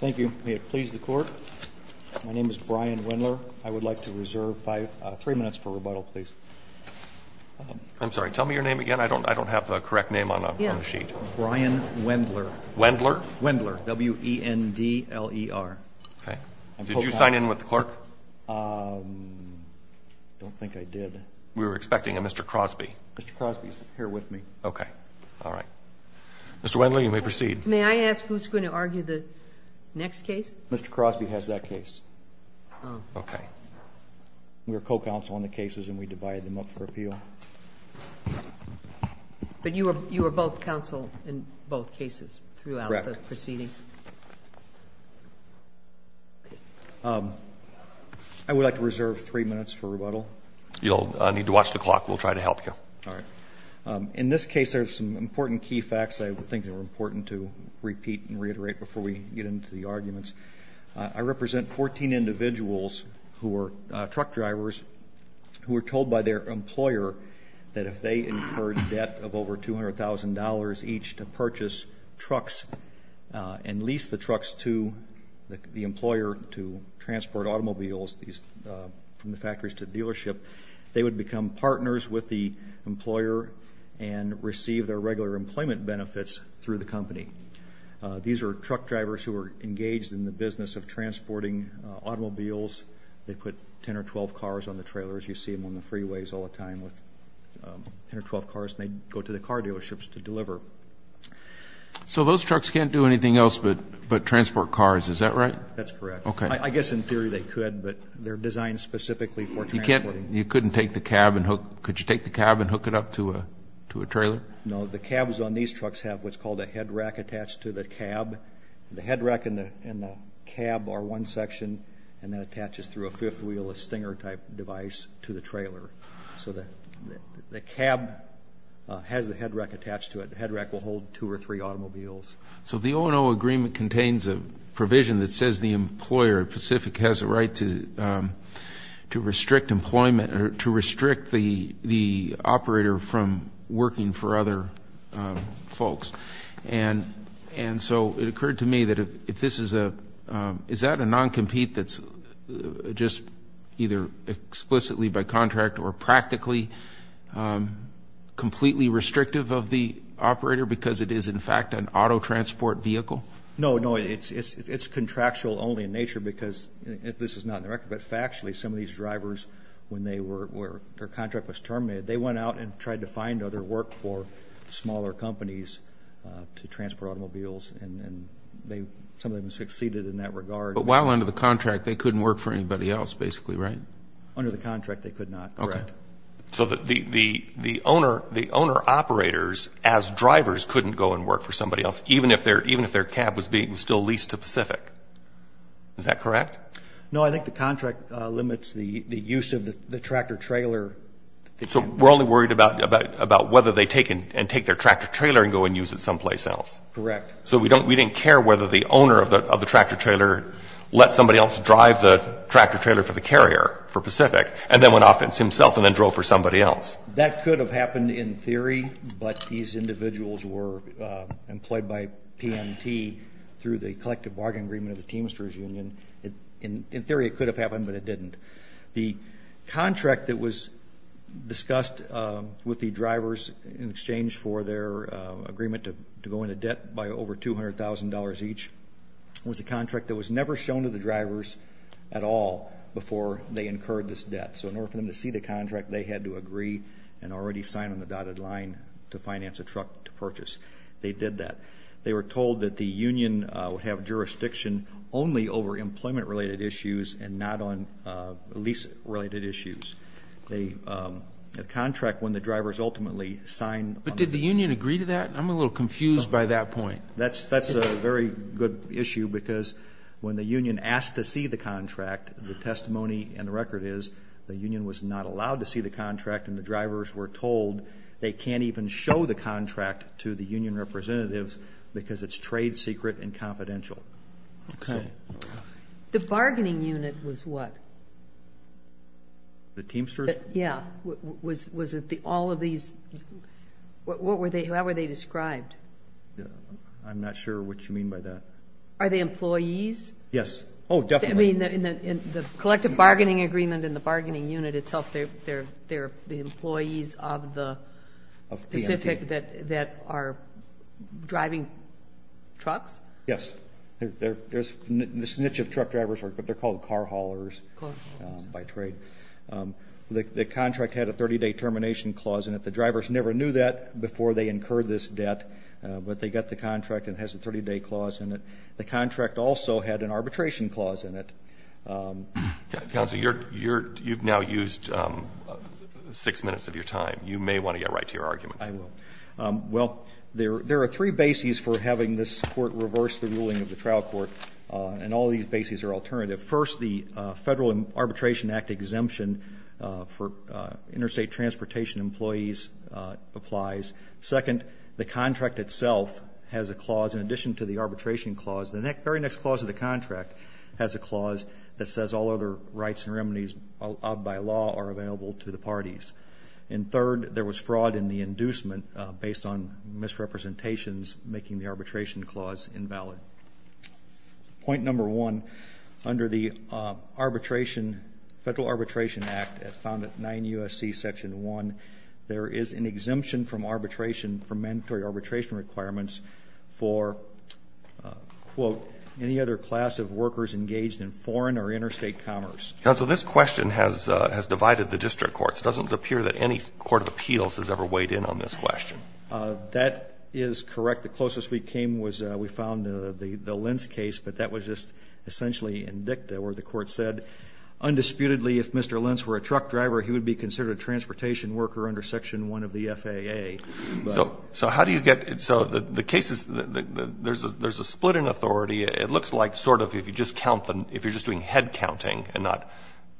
Thank you. May it please the Court? My name is Brian Wendler. I would like to reserve three minutes for rebuttal, please. I'm sorry. Tell me your name again. I don't have a correct name on the sheet. Brian Wendler. Wendler? Wendler, W-E-N-D-L-E-R. Did you sign in with the clerk? I don't think I did. We were expecting a Mr. Crosby. Mr. Crosby is here with me. Okay. All right. Mr. Wendler, you may proceed. May I ask who's going to argue the next case? Mr. Crosby has that case. Oh. Okay. We were co-counsel on the cases and we divided them up for appeal. But you were both counsel in both cases throughout the proceedings? Correct. I would like to reserve three minutes for rebuttal. All right. In this case, there are some important key facts I think are important to repeat and reiterate before we get into the arguments. I represent 14 individuals who were truck drivers who were told by their employer that if they incurred debt of over $200,000 each to purchase trucks and lease the trucks to the employer to transport automobiles from the factories to dealership, they would become partners with the employer and receive their regular employment benefits through the company. These are truck drivers who are engaged in the business of transporting automobiles. They put 10 or 12 cars on the trailers. You see them on the freeways all the time with 10 or 12 cars, and they go to the car dealerships to deliver. So those trucks can't do anything else but transport cars, is that right? That's correct. Okay. I guess in theory they could, but they're designed specifically for transport. You couldn't take the cab and hook? Could you take the cab and hook it up to a trailer? No. The cabs on these trucks have what's called a head rack attached to the cab. The head rack and the cab are one section, and that attaches through a fifth wheel, a stinger-type device to the trailer. So the cab has the head rack attached to it. The head rack will hold two or three automobiles. So the O&O agreement contains a provision that says the employer, Pacific, has a right to restrict employment or to restrict the operator from working for other folks. And so it occurred to me that if this is a ñ is that a non-compete that's just either explicitly by contract or practically completely restrictive of the operator because it is in fact an auto transport vehicle? No, no. It's contractual only in nature because this is not in the record, but factually some of these drivers, when their contract was terminated, they went out and tried to find other work for smaller companies to transport automobiles, and some of them succeeded in that regard. But while under the contract they couldn't work for anybody else basically, right? Under the contract they could not, correct. So the owner operators as drivers couldn't go and work for somebody else, even if their cab was still leased to Pacific. Is that correct? No, I think the contract limits the use of the tractor-trailer. So we're only worried about whether they take their tractor-trailer and go and use it someplace else. Correct. So we didn't care whether the owner of the tractor-trailer let somebody else drive the tractor-trailer for the carrier for Pacific and then went off it himself and then drove for somebody else. That could have happened in theory, but these individuals were employed by PMT through the collective bargain agreement of the Teamsters Union. In theory it could have happened, but it didn't. The contract that was discussed with the drivers in exchange for their agreement to go into debt by over $200,000 each was a contract that was never shown to the drivers at all before they incurred this debt. So in order for them to see the contract, they had to agree and already sign on the dotted line to finance a truck to purchase. They did that. They were told that the union would have jurisdiction only over employment-related issues and not on lease-related issues. The contract, when the drivers ultimately signed on it. But did the union agree to that? I'm a little confused by that point. That's a very good issue because when the union asked to see the contract, the testimony and the record is the union was not allowed to see the contract and the drivers were told they can't even show the contract to the union representatives because it's trade secret and confidential. Okay. The bargaining unit was what? The Teamsters? Yeah. Was it all of these? How were they described? I'm not sure what you mean by that. Are they employees? Yes. Oh, definitely. In the collective bargaining agreement in the bargaining unit itself, they're the employees of the Pacific that are driving trucks? Yes. There's this niche of truck drivers, but they're called car haulers by trade. The contract had a 30-day termination clause, and the drivers never knew that before they incurred this debt. But they got the contract and it has a 30-day clause in it. The contract also had an arbitration clause in it. Counsel, you've now used six minutes of your time. You may want to get right to your arguments. I will. Well, there are three bases for having this court reverse the ruling of the trial court, and all these bases are alternative. First, the Federal Arbitration Act exemption for interstate transportation employees applies. Second, the contract itself has a clause in addition to the arbitration clause. The very next clause of the contract has a clause that says all other rights and remedies by law are available to the parties. And third, there was fraud in the inducement based on misrepresentations making the arbitration clause invalid. Point number one, under the Federal Arbitration Act found at 9 U.S.C. Section 1, there is an exemption from arbitration for mandatory arbitration requirements for, quote, any other class of workers engaged in foreign or interstate commerce. Counsel, this question has divided the district courts. It doesn't appear that any court of appeals has ever weighed in on this question. That is correct. The closest we came was we found the Lentz case, but that was just essentially in dicta where the court said, undisputedly, if Mr. Lentz were a truck driver, he would be considered a transportation worker under Section 1 of the FAA. So how do you get so the cases, there's a split in authority. It looks like sort of if you just count them, if you're just doing head counting and not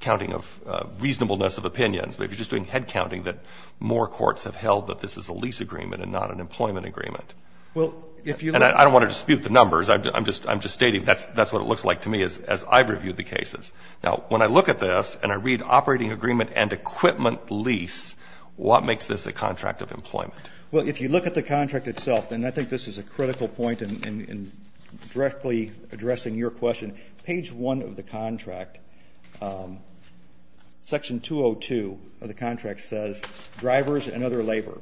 counting of reasonableness of opinions, but if you're just doing head counting that more courts have held that this is a lease agreement and not an employment agreement. And I don't want to dispute the numbers. I'm just stating that's what it looks like to me as I've reviewed the cases. Now, when I look at this and I read operating agreement and equipment lease, what makes this a contract of employment? Well, if you look at the contract itself, and I think this is a critical point in directly addressing your question, page 1 of the contract, Section 202 of the contract says, drivers and other labor.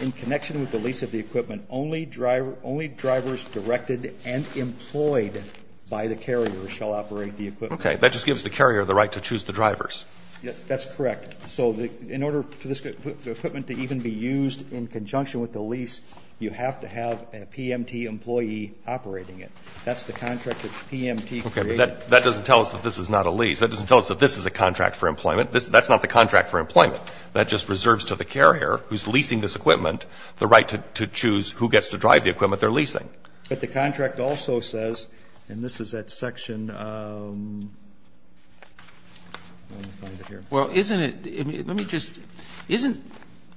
In connection with the lease of the equipment, only drivers directed and employed by the carrier shall operate the equipment. Okay. That just gives the carrier the right to choose the drivers. Yes. That's correct. So in order for this equipment to even be used in conjunction with the lease, you have to have a PMT employee operating it. That's the contract that PMT created. Okay. But that doesn't tell us that this is not a lease. That doesn't tell us that this is a contract for employment. That's not the contract for employment. That just reserves to the carrier who's leasing this equipment the right to choose who gets to drive the equipment they're leasing. Okay. But the contract also says, and this is that section, let me find it here. Well, isn't it, let me just, isn't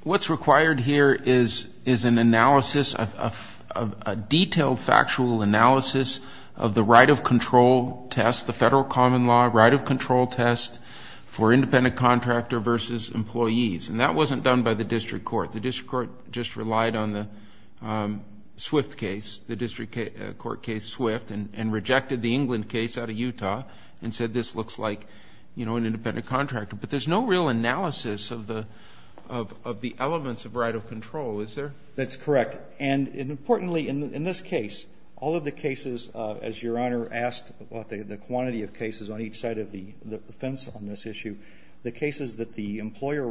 what's required here is an analysis, a detailed factual analysis of the right of control test, the federal common law right of control test for independent contractor versus employees. And that wasn't done by the district court. The district court just relied on the Swift case, the district court case Swift, and rejected the England case out of Utah and said this looks like, you know, an independent contractor. But there's no real analysis of the elements of right of control, is there? That's correct. And importantly, in this case, all of the cases, as Your Honor asked about the quantity of cases on each side of the fence on this issue, the cases that the district court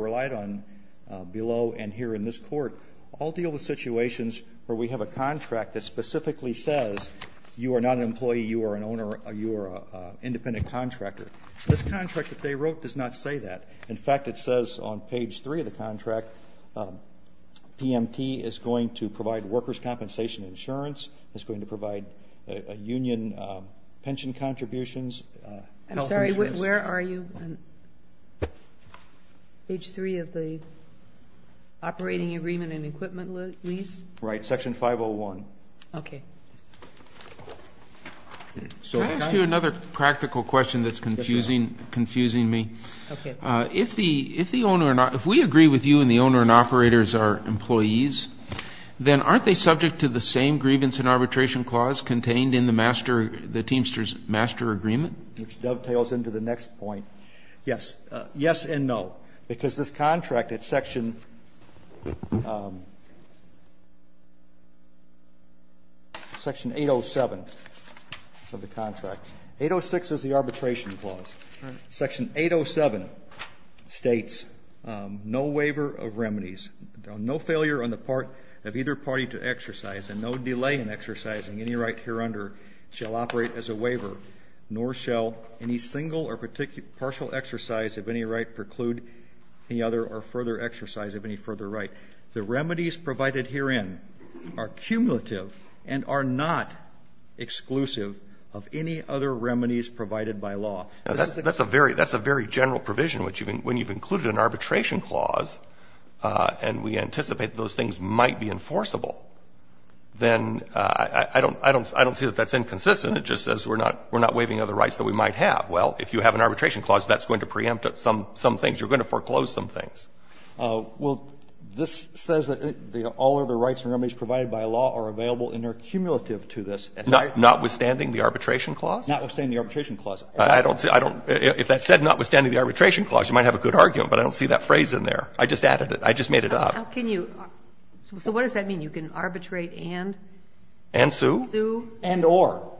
and this court all deal with situations where we have a contract that specifically says you are not an employee, you are an owner, you are an independent contractor. This contract that they wrote does not say that. In fact, it says on page 3 of the contract, PMT is going to provide workers' compensation insurance, is going to provide union pension contributions, health insurance. Sorry, where are you on page 3 of the operating agreement and equipment lease? Right, section 501. Okay. Can I ask you another practical question that's confusing me? Okay. If we agree with you and the owner and operators are employees, then aren't they subject to the same grievance and arbitration clause contained in the Teamsters master agreement? Which dovetails into the next point. Yes. Yes and no. Because this contract at section 807 of the contract. 806 is the arbitration clause. Section 807 states, no waiver of remedies. No failure on the part of either party to exercise and no delay in exercising any right here under shall operate as a waiver, nor shall any single or partial exercise of any right preclude any other or further exercise of any further right. The remedies provided herein are cumulative and are not exclusive of any other remedies provided by law. That's a very general provision. When you've included an arbitration clause and we anticipate those things might be enforceable, then I don't see that that's inconsistent. It just says we're not waiving other rights that we might have. Well, if you have an arbitration clause, that's going to preempt some things. You're going to foreclose some things. Well, this says that all other rights and remedies provided by law are available and are cumulative to this. Notwithstanding the arbitration clause? Notwithstanding the arbitration clause. I don't see. If that said notwithstanding the arbitration clause, you might have a good argument, but I don't see that phrase in there. I just added it. I just made it up. So what does that mean? You can arbitrate and? And sue. Sue. And or.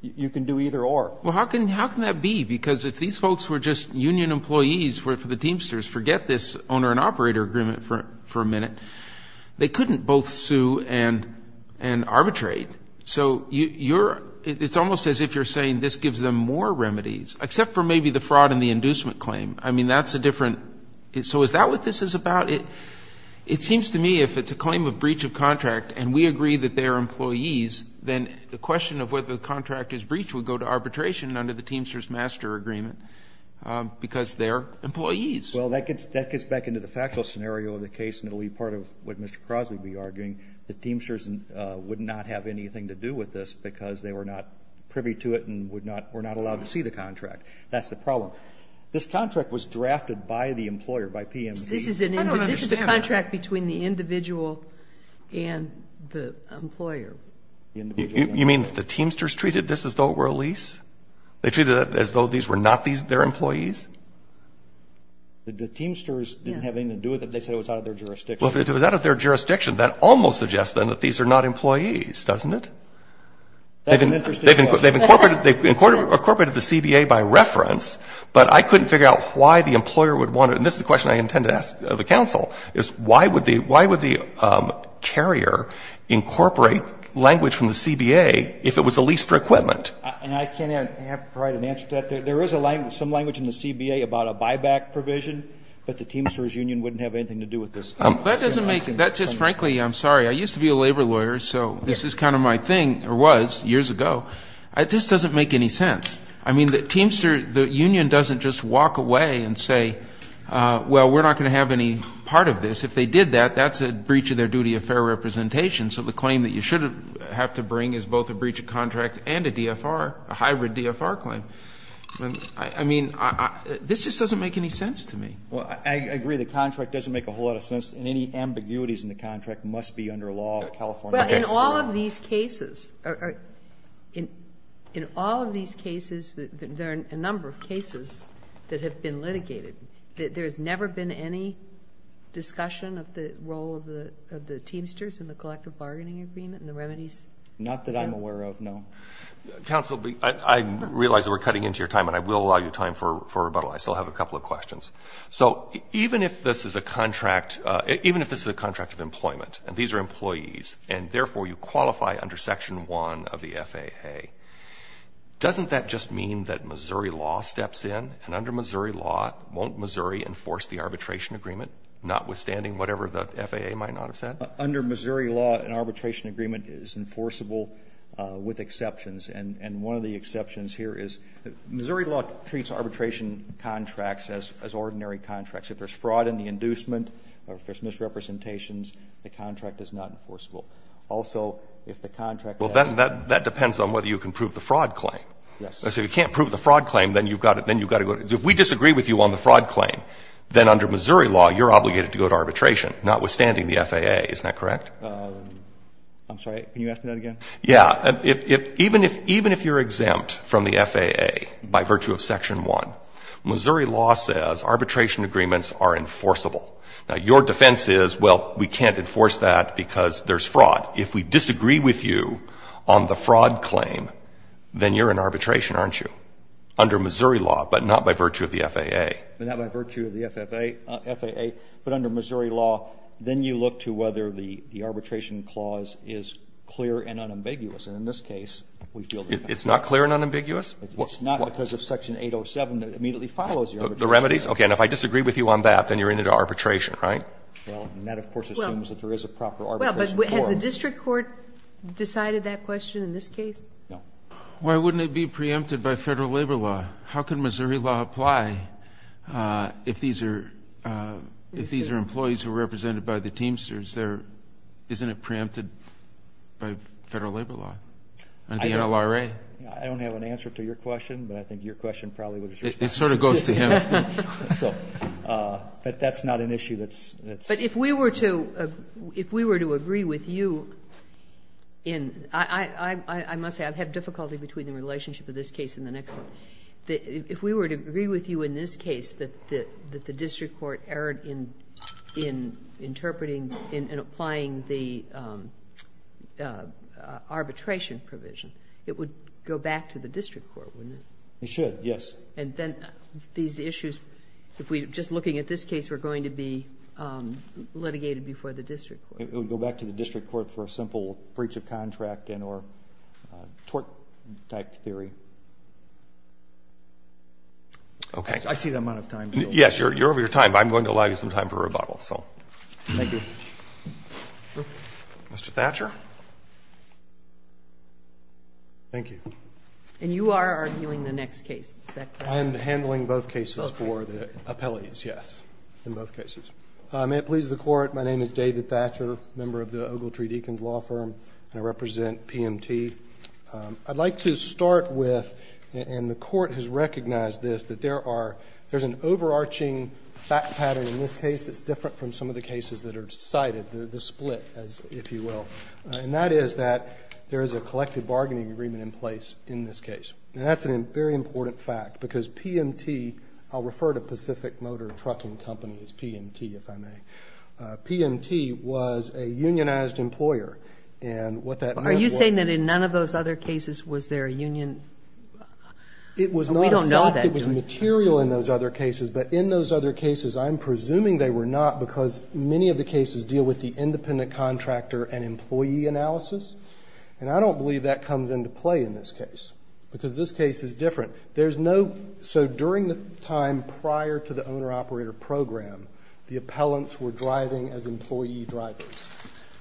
You can do either or. Well, how can that be? Because if these folks were just union employees for the Teamsters, forget this owner and operator agreement for a minute, they couldn't both sue and arbitrate. So it's almost as if you're saying this gives them more remedies, except for maybe the fraud and the inducement claim. I mean, that's a different. So is that what this is about? It seems to me if it's a claim of breach of contract and we agree that they are employees, then the question of whether the contract is breached would go to arbitration under the Teamsters Master Agreement because they are employees. Well, that gets back into the factual scenario of the case, and it will be part of what Mr. Crosby would be arguing. The Teamsters would not have anything to do with this because they were not privy to it and would not, were not allowed to see the contract. That's the problem. This contract was drafted by the employer, by PMD. I don't understand. This is a contract between the individual and the employer. You mean the Teamsters treated this as though it were a lease? They treated it as though these were not their employees? The Teamsters didn't have anything to do with it. They said it was out of their jurisdiction. Well, if it was out of their jurisdiction, that almost suggests then that these are not employees, doesn't it? That's an interesting question. They've incorporated the CBA by reference, but I couldn't figure out why the employer would want to, and this is a question I intend to ask the counsel, is why would the carrier incorporate language from the CBA if it was a lease for equipment? And I can't provide an answer to that. There is some language in the CBA about a buyback provision, but the Teamsters union wouldn't have anything to do with this. That doesn't make, that just frankly, I'm sorry. I used to be a labor lawyer, so this is kind of my thing, or was years ago. It just doesn't make any sense. I mean, the Teamster, the union doesn't just walk away and say, well, we're not going to have any part of this. If they did that, that's a breach of their duty of fair representation, so the claim that you should have to bring is both a breach of contract and a DFR, a hybrid DFR claim. I mean, this just doesn't make any sense to me. Well, I agree the contract doesn't make a whole lot of sense, and any ambiguities in the contract must be under law at California. Well, in all of these cases, there are a number of cases that have been litigated. There has never been any discussion of the role of the Teamsters in the collective bargaining agreement and the remedies? Not that I'm aware of, no. Counsel, I realize that we're cutting into your time, and I will allow you time for rebuttal. I still have a couple of questions. So even if this is a contract, even if this is a contract of employment, and these are employees, and therefore you qualify under Section 1 of the FAA, doesn't that just mean that Missouri law steps in? And under Missouri law, won't Missouri enforce the arbitration agreement, notwithstanding whatever the FAA might not have said? Under Missouri law, an arbitration agreement is enforceable with exceptions. And one of the exceptions here is Missouri law treats arbitration contracts as ordinary contracts. If there's fraud in the inducement or if there's misrepresentations, the contract is not enforceable. Also, if the contract has to be enforced. Well, that depends on whether you can prove the fraud claim. Yes. So if you can't prove the fraud claim, then you've got to go to the other side. If we disagree with you on the fraud claim, then under Missouri law, you're obligated to go to arbitration, notwithstanding the FAA. Isn't that correct? I'm sorry. Can you ask me that again? Yeah. Even if you're exempt from the FAA by virtue of Section 1, Missouri law says arbitration agreements are enforceable. Now, your defense is, well, we can't enforce that because there's fraud. If we disagree with you on the fraud claim, then you're in arbitration, aren't you, under Missouri law, but not by virtue of the FAA? Not by virtue of the FAA, but under Missouri law. Then you look to whether the arbitration clause is clear and unambiguous. And in this case, we feel that it's not. It's not clear and unambiguous? It's not because of Section 807. It immediately follows the arbitration clause. The remedies? Okay. And if I disagree with you on that, then you're into arbitration, right? Well, and that, of course, assumes that there is a proper arbitration clause. Well, but has the district court decided that question in this case? No. Why wouldn't it be preempted by Federal labor law? How could Missouri law apply if these are employees who are represented by the Teamsters? Isn't it preempted by Federal labor law under the NLRA? I don't have an answer to your question, but I think your question probably answers your question. It sort of goes to him. So, but that's not an issue that's, that's. But if we were to, if we were to agree with you in, I must say I have difficulty between the relationship of this case and the next one. If we were to agree with you in this case that the district court erred in interpreting and applying the arbitration provision, it would go back to the district court, wouldn't it? It should, yes. And then these issues, if we, just looking at this case, were going to be litigated before the district court. It would go back to the district court for a simple breach of contract and or tort-type theory. Okay. I see the amount of time. Yes, you're over your time, but I'm going to allow you some time for rebuttal, Thank you. Mr. Thatcher. Thank you. And you are arguing the next case, is that correct? I am handling both cases for the appellees, yes, in both cases. May it please the Court, my name is David Thatcher, member of the Ogletree Deacons Law Firm, and I represent PMT. I'd like to start with, and the Court has recognized this, that there are, there's an overarching fact pattern in this case that's different from some of the cases that are cited, the split, if you will. And that is that there is a collective bargaining agreement in place in this case. And that's a very important fact, because PMT, I'll refer to Pacific Motor Trucking Company as PMT, if I may. PMT was a unionized employer, and what that meant was Are you saying that in none of those other cases was there a union? It was not a fact. We don't know that, do we? It was material in those other cases. But in those other cases, I'm presuming they were not, because many of the cases deal with the independent contractor and employee analysis. And I don't believe that comes into play in this case, because this case is different. There's no, so during the time prior to the owner-operator program, the appellants were driving as employee drivers.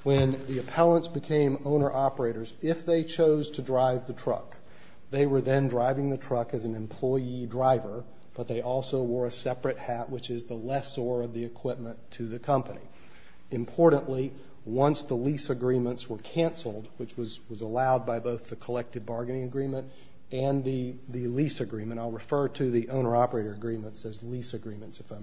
When the appellants became owner-operators, if they chose to drive the truck, they were then driving the truck as an employee driver, but they also wore a separate hat, which is the lessor of the equipment to the company. Importantly, once the lease agreements were canceled, which was allowed by both the collective bargaining agreement and the lease agreement, I'll refer to the owner-operator agreements as lease agreements, if I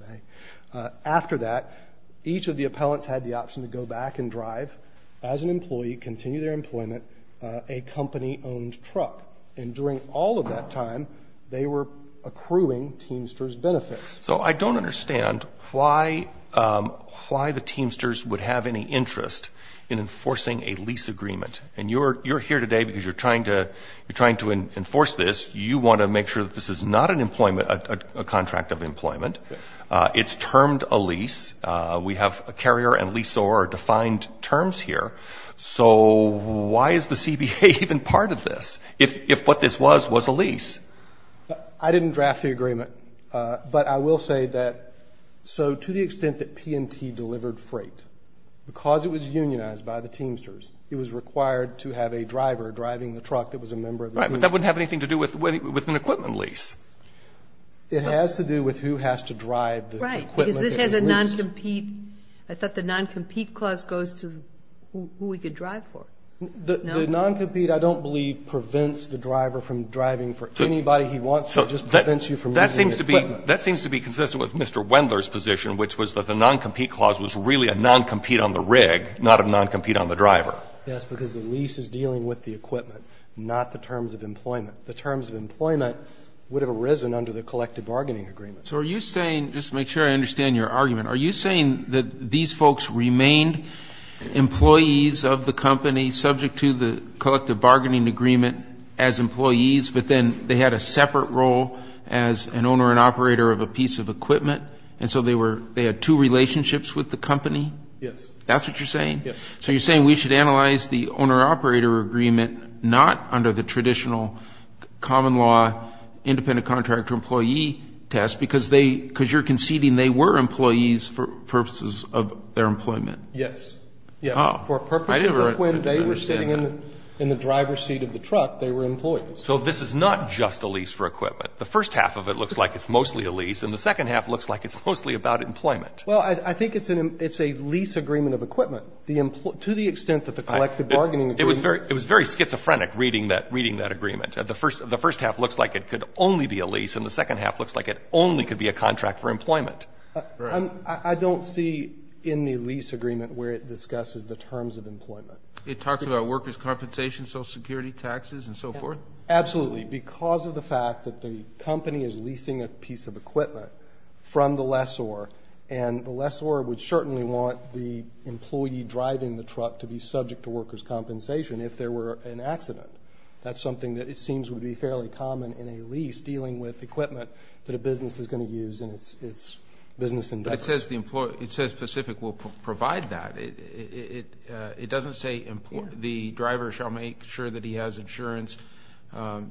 may. After that, each of the appellants had the option to go back and drive as an employee, continue their employment, a company-owned truck. And during all of that time, they were accruing Teamster's benefits. So I don't understand why the Teamsters would have any interest in enforcing a lease agreement. And you're here today because you're trying to enforce this. You want to make sure that this is not an employment, a contract of employment. It's termed a lease. We have a carrier and lease or defined terms here. So why is the CBA even part of this, if what this was was a lease? I didn't draft the agreement. But I will say that, so to the extent that P&T delivered freight, because it was unionized by the Teamsters, it was required to have a driver driving the truck that was a member of the Teamsters. Right. But that wouldn't have anything to do with an equipment lease. It has to do with who has to drive the equipment that is leased. Right. Because this has a non-compete. I thought the non-compete clause goes to who we could drive for. No? The non-compete, I don't believe, prevents the driver from driving for anybody he wants to. It just prevents you from using the equipment. That seems to be consistent with Mr. Wendler's position, which was that the non-compete clause was really a non-compete on the rig, not a non-compete on the driver. Yes, because the lease is dealing with the equipment, not the terms of employment. The terms of employment would have arisen under the collective bargaining agreement. So are you saying, just to make sure I understand your argument, are you saying that these folks remained employees of the company subject to the collective bargaining agreement as employees, but then they had a separate role as an owner and operator of a piece of equipment, and so they had two relationships with the company? Yes. That's what you're saying? Yes. So you're saying we should analyze the owner-operator agreement not under the traditional common law independent contractor-employee test, because you're Yes. Yes. For purposes of when they were sitting in the driver's seat of the truck, they were employees. So this is not just a lease for equipment. The first half of it looks like it's mostly a lease, and the second half looks like it's mostly about employment. Well, I think it's a lease agreement of equipment. To the extent that the collective bargaining agreement It was very schizophrenic reading that agreement. The first half looks like it could only be a lease, and the second half looks like it only could be a contract for employment. Right. I don't see in the lease agreement where it discusses the terms of employment. It talks about workers' compensation, social security, taxes, and so forth? Absolutely. Because of the fact that the company is leasing a piece of equipment from the lessor, and the lessor would certainly want the employee driving the truck to be subject to workers' compensation if there were an accident. That's something that it seems would be fairly common in a lease dealing with It says specific will provide that. It doesn't say the driver shall make sure that he has insurance,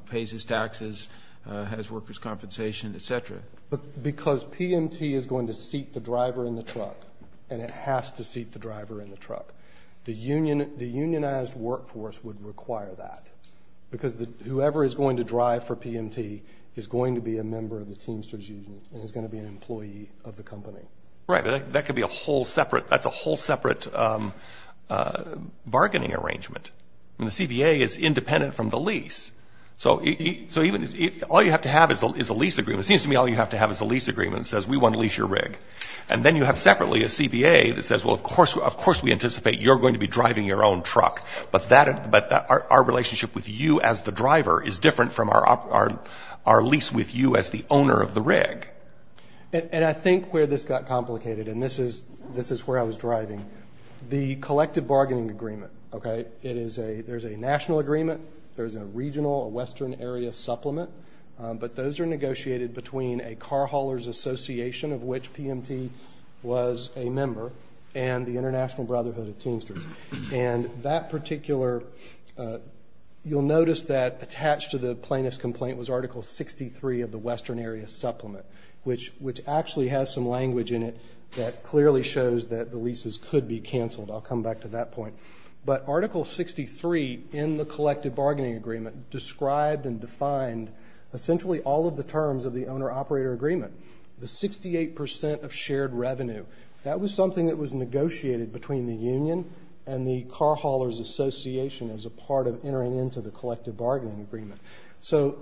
pays his taxes, has workers' compensation, et cetera. Because PMT is going to seat the driver in the truck, and it has to seat the driver in the truck. The unionized workforce would require that because whoever is going to drive for Right. That could be a whole separate bargaining arrangement. The CBA is independent from the lease. So all you have to have is a lease agreement. It seems to me all you have to have is a lease agreement that says we want to lease your rig. And then you have separately a CBA that says, well, of course we anticipate you're going to be driving your own truck, but our relationship with you as the driver is different from our lease with you as the owner of the rig. And I think where this got complicated, and this is where I was driving, the collective bargaining agreement, okay? There's a national agreement. There's a regional, a western area supplement. But those are negotiated between a car hauler's association, of which PMT was a member, and the International Brotherhood of Teamsters. And that particular you'll notice that attached to the plaintiff's complaint was Article 63 of the western area supplement, which actually has some language in it that clearly shows that the leases could be canceled. I'll come back to that point. But Article 63 in the collective bargaining agreement described and defined essentially all of the terms of the owner-operator agreement. The 68% of shared revenue, that was something that was negotiated between the union and the car hauler's association as a part of entering into the collective bargaining agreement. So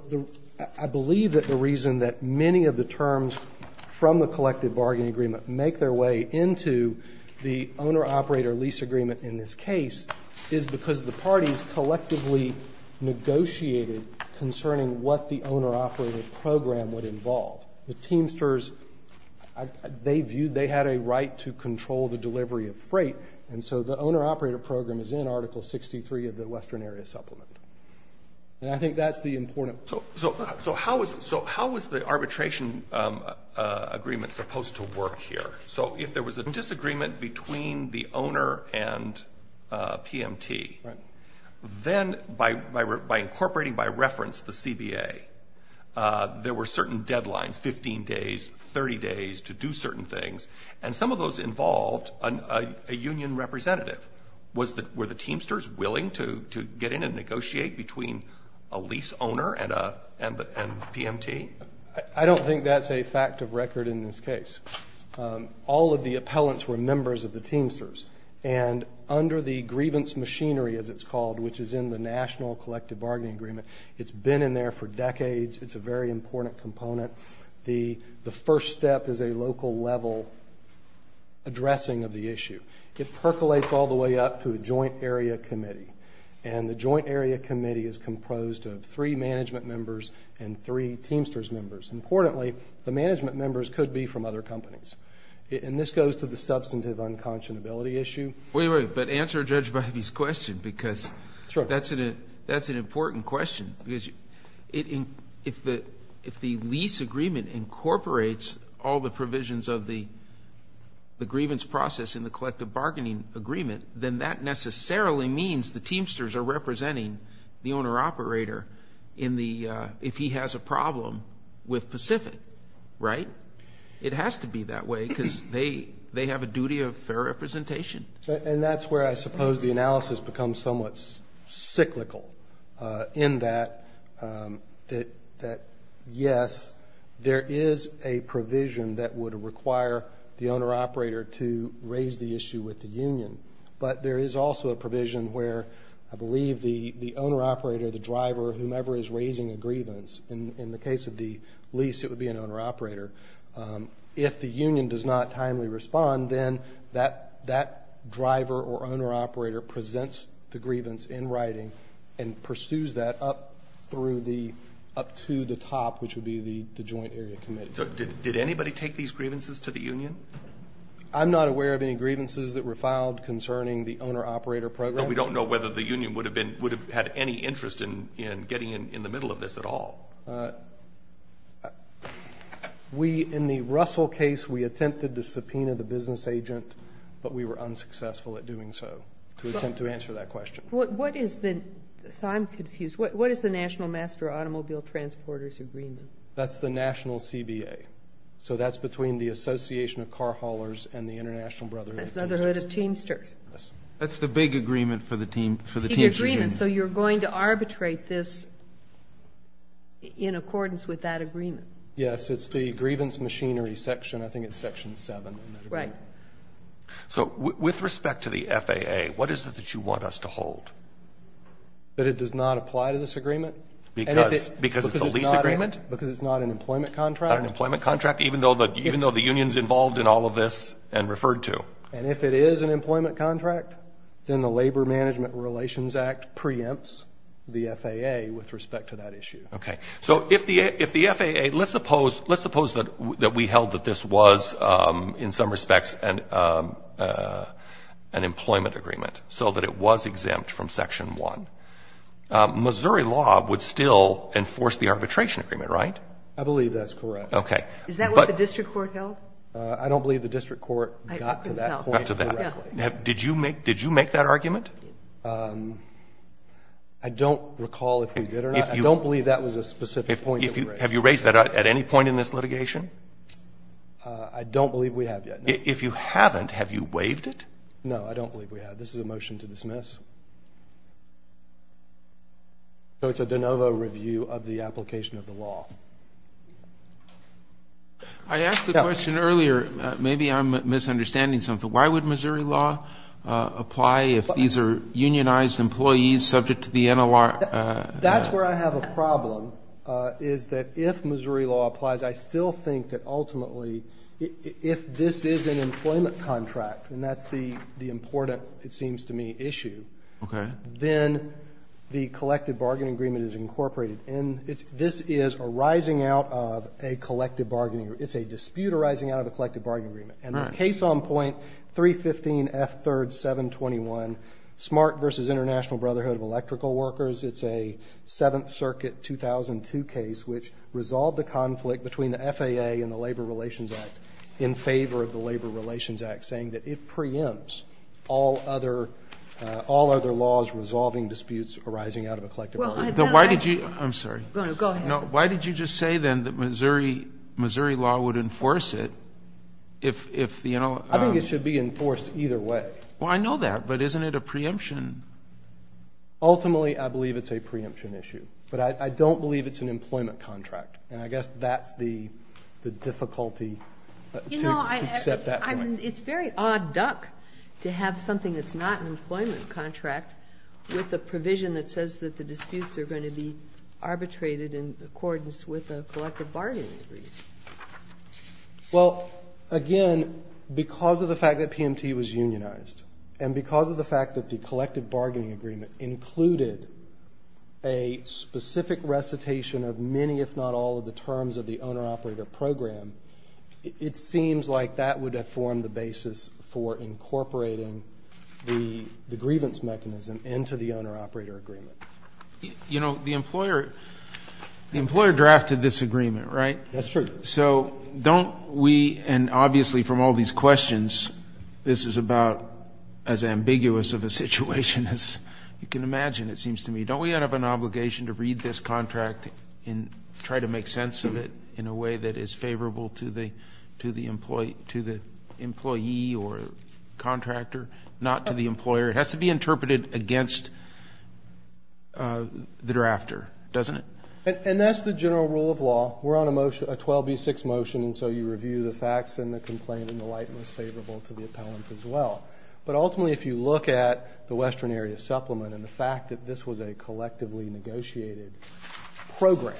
I believe that the reason that many of the terms from the collective bargaining agreement make their way into the owner-operator lease agreement in this case is because the parties collectively negotiated concerning what the owner-operator program would involve. The Teamsters, they viewed, they had a right to control the delivery of freight. And so the owner-operator program is in Article 63 of the western area supplement. And I think that's the important point. So how was the arbitration agreement supposed to work here? So if there was a disagreement between the owner and PMT, then by incorporating by reference the CBA, there were certain deadlines, 15 days, 30 days to do certain things, and some of those involved a union representative. Were the Teamsters willing to get in and negotiate between a lease owner and PMT? I don't think that's a fact of record in this case. All of the appellants were members of the Teamsters. And under the grievance machinery, as it's called, which is in the national collective bargaining agreement, it's been in there for decades. It's a very important component. The first step is a local level addressing of the issue. It percolates all the way up to a joint area committee. And the joint area committee is composed of three management members and three Teamsters members. Importantly, the management members could be from other companies. And this goes to the substantive unconscionability issue. Wait, wait. But answer Judge Bivey's question because that's an important question. Because if the lease agreement incorporates all the provisions of the grievance process in the collective bargaining agreement, then that necessarily means the Teamsters are representing the owner-operator if he has a problem with Pacific, right? It has to be that way because they have a duty of fair representation. And that's where I suppose the analysis becomes somewhat cyclical in that, yes, there is a provision that would require the owner-operator to raise the issue with the union. But there is also a provision where I believe the owner-operator, the driver, whomever is raising a grievance, in the case of the lease, it would be an owner-operator. If the union does not timely respond, then that driver or owner-operator presents the grievance in writing and pursues that up through the, up to the top, which would be the joint area committee. So did anybody take these grievances to the union? I'm not aware of any grievances that were filed concerning the owner-operator program. But we don't know whether the union would have been, would have had any interest in getting in the middle of this at all. We, in the Russell case, we attempted to subpoena the business agent, but we were unsuccessful at doing so to attempt to answer that question. What is the, so I'm confused, what is the National Master Automobile Transporters Agreement? That's the national CBA. So that's between the Association of Car Haulers and the International Brotherhood of Teamsters. Brotherhood of Teamsters. Yes. That's the big agreement for the team, for the Teamsters union. The agreement. So you're going to arbitrate this in accordance with that agreement? Yes. It's the grievance machinery section, I think it's section 7. Right. So with respect to the FAA, what is it that you want us to hold? That it does not apply to this agreement. Because it's a lease agreement? Because it's not an employment contract. Not an employment contract, even though the union's involved in all of this and referred to? And if it is an employment contract, then the Labor Management Relations Act preempts the FAA with respect to that issue. Okay. So if the FAA, let's suppose, that we held that this was in some respects an employment agreement, so that it was exempt from section 1, Missouri law would still enforce the arbitration agreement, right? I believe that's correct. Okay. Is that what the district court held? I don't believe the district court got to that point correctly. Did you make that argument? I don't recall if we did or not. I don't believe that was a specific point that we raised. At any point in this litigation? I don't believe we have yet. If you haven't, have you waived it? No, I don't believe we have. This is a motion to dismiss. So it's a de novo review of the application of the law. I asked the question earlier, maybe I'm misunderstanding something. Why would Missouri law apply if these are unionized employees subject to the NLR? That's where I have a problem, is that if Missouri law applies, I still think that ultimately if this is an employment contract, and that's the important, it seems to me, issue, then the collective bargaining agreement is incorporated. This is a rising out of a collective bargaining agreement. It's a dispute arising out of a collective bargaining agreement. And the case on point 315F3rd721, SMART v. International Brotherhood of Electrical Workers, it's a Seventh Circuit 2002 case which resolved the conflict between the FAA and the Labor Relations Act in favor of the Labor Relations Act, saying that it preempts all other laws resolving disputes arising out of a collective bargaining agreement. I'm sorry. Go ahead. Why did you just say then that Missouri law would enforce it if, you know? I think it should be enforced either way. Well, I know that, but isn't it a preemption? Ultimately, I believe it's a preemption issue. But I don't believe it's an employment contract. And I guess that's the difficulty to accept that point. It's very odd duck to have something that's not an employment contract with a provision that says that the disputes are going to be arbitrated in accordance with a collective bargaining agreement. Well, again, because of the fact that PMT was unionized and because of the fact that the collective bargaining agreement included a specific recitation of many, if not all, of the terms of the owner-operator program, it seems like that would have formed the basis for incorporating the grievance mechanism into the owner-operator agreement. You know, the employer drafted this agreement, right? That's true. So don't we, and obviously from all these questions, this is about as ambiguous of a situation as you can imagine, it seems to me. Don't we have an obligation to read this contract and try to make sense of it in a way that is favorable to the employee or contractor, not to the employer? It has to be interpreted against the drafter, doesn't it? And that's the general rule of law. We're on a motion, a 12B6 motion, and so you review the facts and the complaint in the light most favorable to the appellant as well. But ultimately, if you look at the Western Area Supplement and the fact that this was a collectively negotiated program,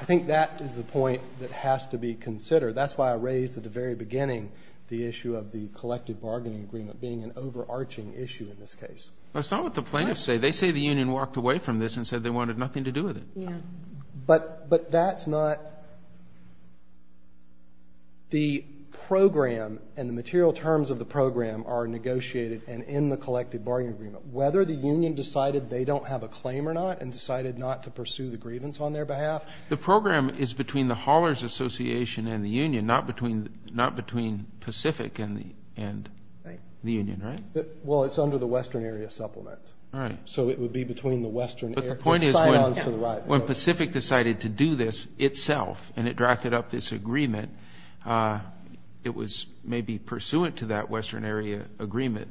I think that is the point that has to be considered. That's why I raised at the very beginning the issue of the collective bargaining agreement being an overarching issue in this case. But it's not what the plaintiffs say. They say the union walked away from this and said they wanted nothing to do with it. Yeah. But that's not the program and the material terms of the program are negotiated and in the collective bargaining agreement. Whether the union decided they don't have a claim or not and decided not to pursue the grievance on their behalf. The program is between the Haulers Association and the union, not between Pacific and the union, right? Well, it's under the Western Area Supplement. Right. So it would be between the Western Area. But the point is when Pacific decided to do this itself and it drafted up this agreement, it was maybe pursuant to that Western Area agreement.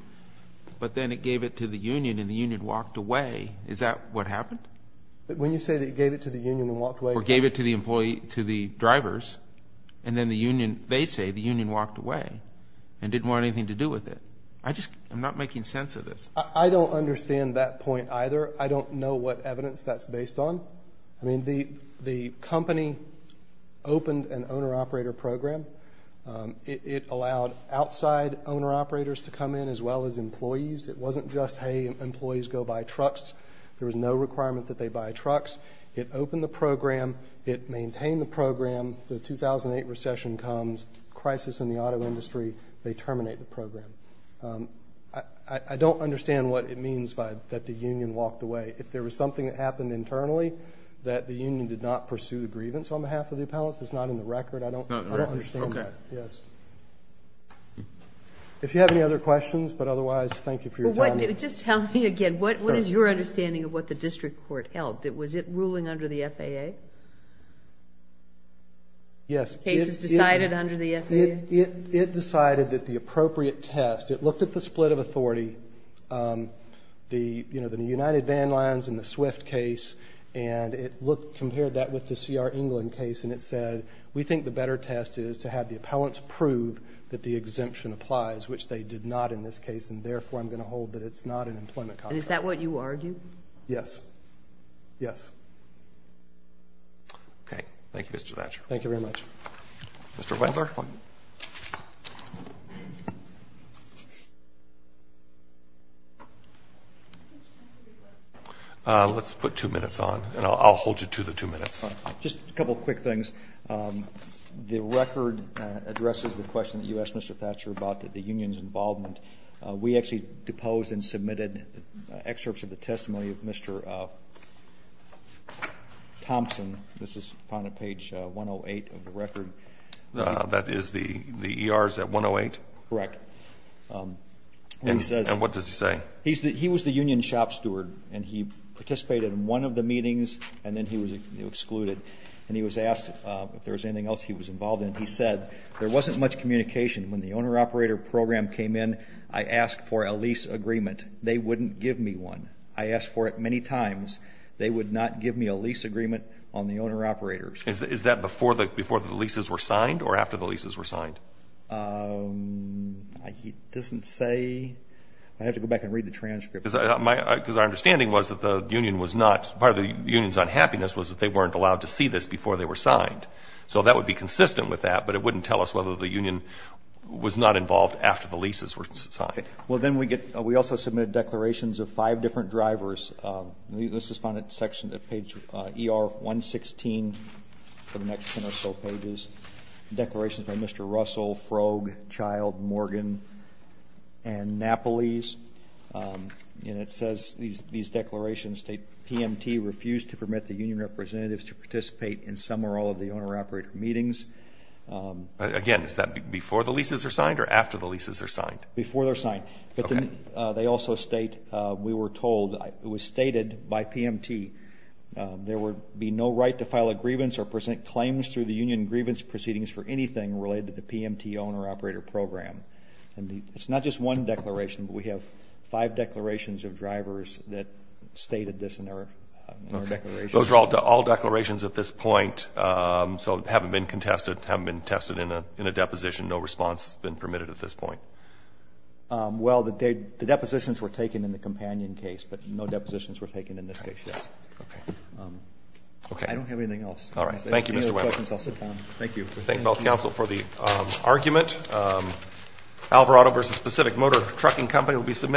But then it gave it to the union and the union walked away. Is that what happened? When you say they gave it to the union and walked away. Or gave it to the drivers and then the union, they say the union walked away and didn't want anything to do with it. I'm not making sense of this. I don't understand that point either. I don't know what evidence that's based on. I mean, the company opened an owner-operator program. It allowed outside owner-operators to come in as well as employees. It wasn't just, hey, employees go buy trucks. There was no requirement that they buy trucks. It opened the program. It maintained the program. The 2008 recession comes, crisis in the auto industry. They terminate the program. I don't understand what it means that the union walked away. If there was something that happened internally that the union did not pursue the grievance on behalf of the appellants, it's not in the record. I don't understand that. Okay. Yes. If you have any other questions, but otherwise, thank you for your time. Just tell me again, what is your understanding of what the district court held? Was it ruling under the FAA? Yes. The case is decided under the FAA? It decided that the appropriate test, it looked at the split of authority, the United Van Lines and the Swift case, and it compared that with the C.R. England case, and it said, we think the better test is to have the appellants prove that the exemption applies, which they did not in this case, and therefore I'm going to hold that it's not an employment contract. And is that what you argue? Yes. Yes. Okay. Thank you, Mr. Thatcher. Thank you very much. Mr. Weber? Let's put two minutes on, and I'll hold you to the two minutes. Just a couple of quick things. The record addresses the question that you asked Mr. Thatcher about the union's involvement. We actually deposed and submitted excerpts of the testimony of Mr. Thompson. This is on page 108 of the record. That is the ERs at 108? Correct. And what does he say? He was the union shop steward, and he participated in one of the meetings, and then he was excluded. And he was asked if there was anything else he was involved in. He said, there wasn't much communication. When the owner-operator program came in, I asked for a lease agreement. They wouldn't give me one. I asked for it many times. They would not give me a lease agreement on the owner-operators. Is that before the leases were signed or after the leases were signed? He doesn't say. I'd have to go back and read the transcript. Because our understanding was that the union was not, part of the union's unhappiness was that they weren't allowed to see this before they were signed. So that would be consistent with that, but it wouldn't tell us whether the union was not involved after the leases were signed. Well, then we also submitted declarations of five different drivers. This is found at page ER116 for the next 10 or so pages, declarations by Mr. Russell, Froeg, Child, Morgan, and Napoles. And it says these declarations state, PMT refused to permit the union representatives to participate in some or all of the owner-operator meetings. Again, is that before the leases are signed or after the leases are signed? Before they're signed. Okay. And they also state, we were told, it was stated by PMT, there would be no right to file a grievance or present claims through the union grievance proceedings for anything related to the PMT owner-operator program. And it's not just one declaration, but we have five declarations of drivers that stated this in our declaration. Those are all declarations at this point, so haven't been contested, haven't been tested in a deposition, no response has been permitted at this point. Well, the depositions were taken in the companion case, but no depositions were taken in this case, yes. Okay. I don't have anything else. All right. Thank you, Mr. Wendler. Any other questions, I'll sit down. Thank you. We thank both counsel for the argument. Alvarado versus Pacific Motor Trucking Company will be submitted.